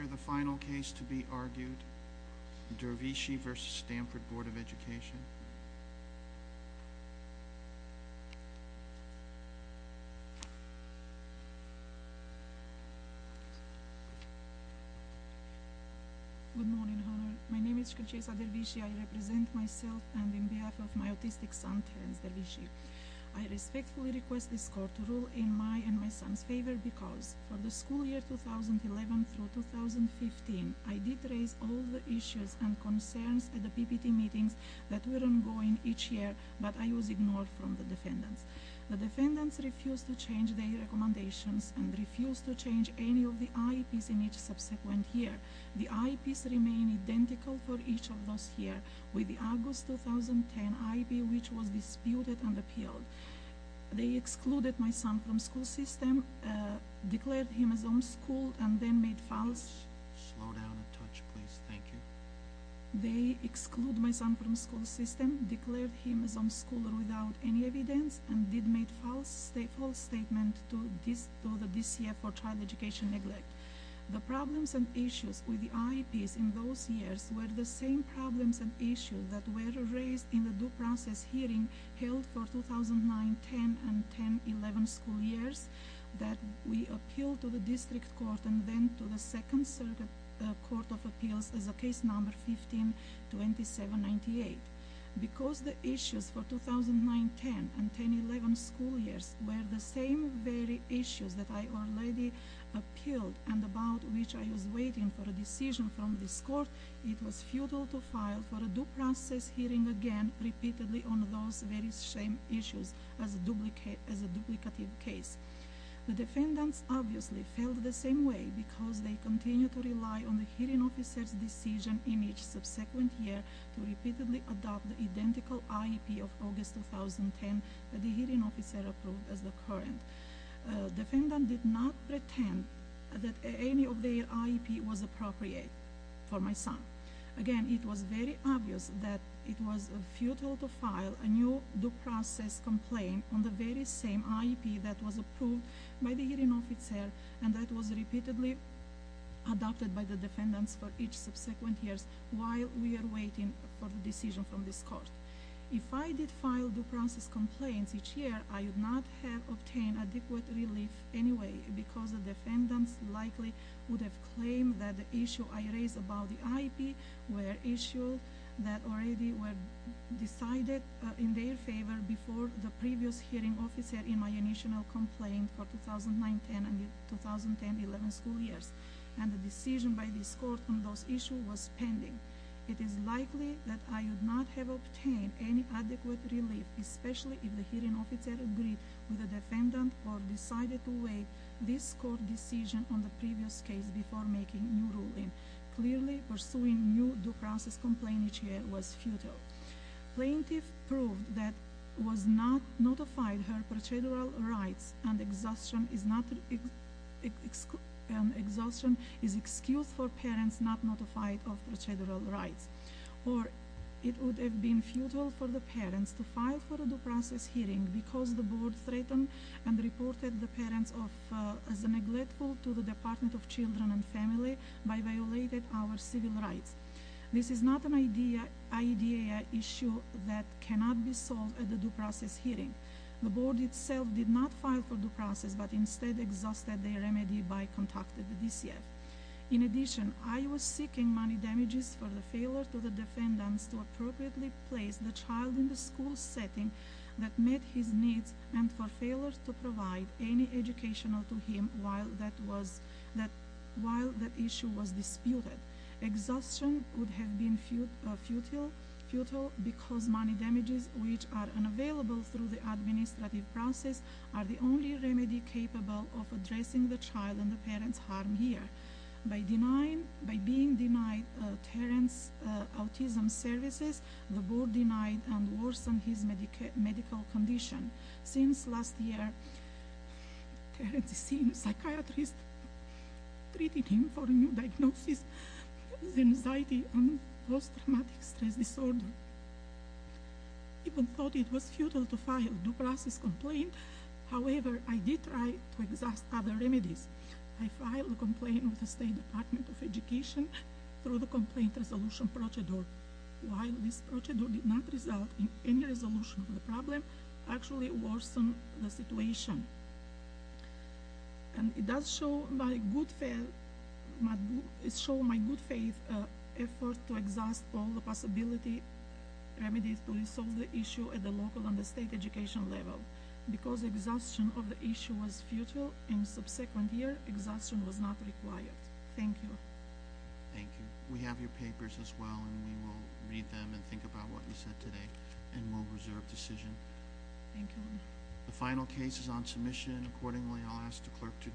Education Good morning, Honor. My name is Shikunshesa Dervishi. I represent myself and on behalf of my autistic son, Terence Dervishi, I respectfully request this Court to rule in my and my son's favor because, for the school year 2011 through 2015, I did raise all the issues and concerns at the PPT meetings that were ongoing each year but I was ignored from the defendants. The defendants refused to change their recommendations and refused to change any of the IEPs in each subsequent year. The IEPs remained identical for each of those years, with the August 2010 IEP which was disputed and appealed. They excluded my son from the school system, declared him a homeschooler without any evidence, and did make a false statement to the DCF for child education neglect. The problems and issues with the IEPs in those years were the same problems and issues that were raised in the due process hearing held for 2009-10 and 10-11 school years that we appealed to the District Court and then to the Second Circuit Court of Appeals as a case number 15-2798. Because the issues for 2009-10 and 10-11 school years were the same very issues that I already appealed and about which I was waiting for a decision from this Court, it was futile to file for a due process hearing again repeatedly on those very same issues as a duplicative case. The defendants obviously felt the same way because they continued to rely on the hearing officer's decision in each subsequent year to repeatedly adopt the identical IEP of August 2010 that the hearing officer approved as the current. The defendants did not pretend that any of their IEP was appropriate for my son. Again, it was very obvious that it was futile to file a new due process complaint on the very same IEP that was approved by the hearing officer and that was repeatedly adopted by the defendants for each subsequent year while we were waiting for a decision from this Court. If I did file an adequate relief anyway, it is because the defendants likely would have claimed that the issues I raised about the IEP were issues that already were decided in their favor before the previous hearing officer in my initial complaint for 2009-10 and 2010-11 school years and the decision by this Court on those issues was pending. It is likely that I would not have obtained any adequate relief, especially if the hearing officer agreed with the defendant or decided to wait this Court decision on the previous case before making a new ruling. Clearly, pursuing a new due process complaint each year was futile. Plaintiff proved that was not notified her procedural rights and exhaustion is an excuse for parents not notified of procedural rights. Or, it would have been futile for the parents to file for a due process hearing because the Board threatened and reported the parents as neglectful to the Department of Children and Families by violating our civil rights. This is not an IDEA issue that cannot be solved at the due process hearing. The Board itself did not file for due process but instead exhausted their remedy by contacting the DCF. In addition, I was seeking money damages for the failure to the defendants to appropriately place the child in the school setting that met his needs and for failure to provide any educational to him while that issue was disputed. Exhaustion would have been futile because money damages which are incapable of addressing the child and the parents' harm here. By being denied Terence's autism services, the Board denied and worsened his medical condition. Since last year, Terence has seen psychiatrists treating him for a new diagnosis, the anxiety and post-traumatic stress disorder. Even though it was futile to file due process complaint, however, I did try to exhaust other remedies. I filed a complaint with the State Department of Education through the complaint resolution procedure. While this procedure did not result in any resolution of the problem, it actually worsened the situation. It does show my good faith effort to exhaust all the possibility remedies to resolve the issue at the local and the school level. The final case is on submission. Accordingly, I will ask the Clerk to adjourn.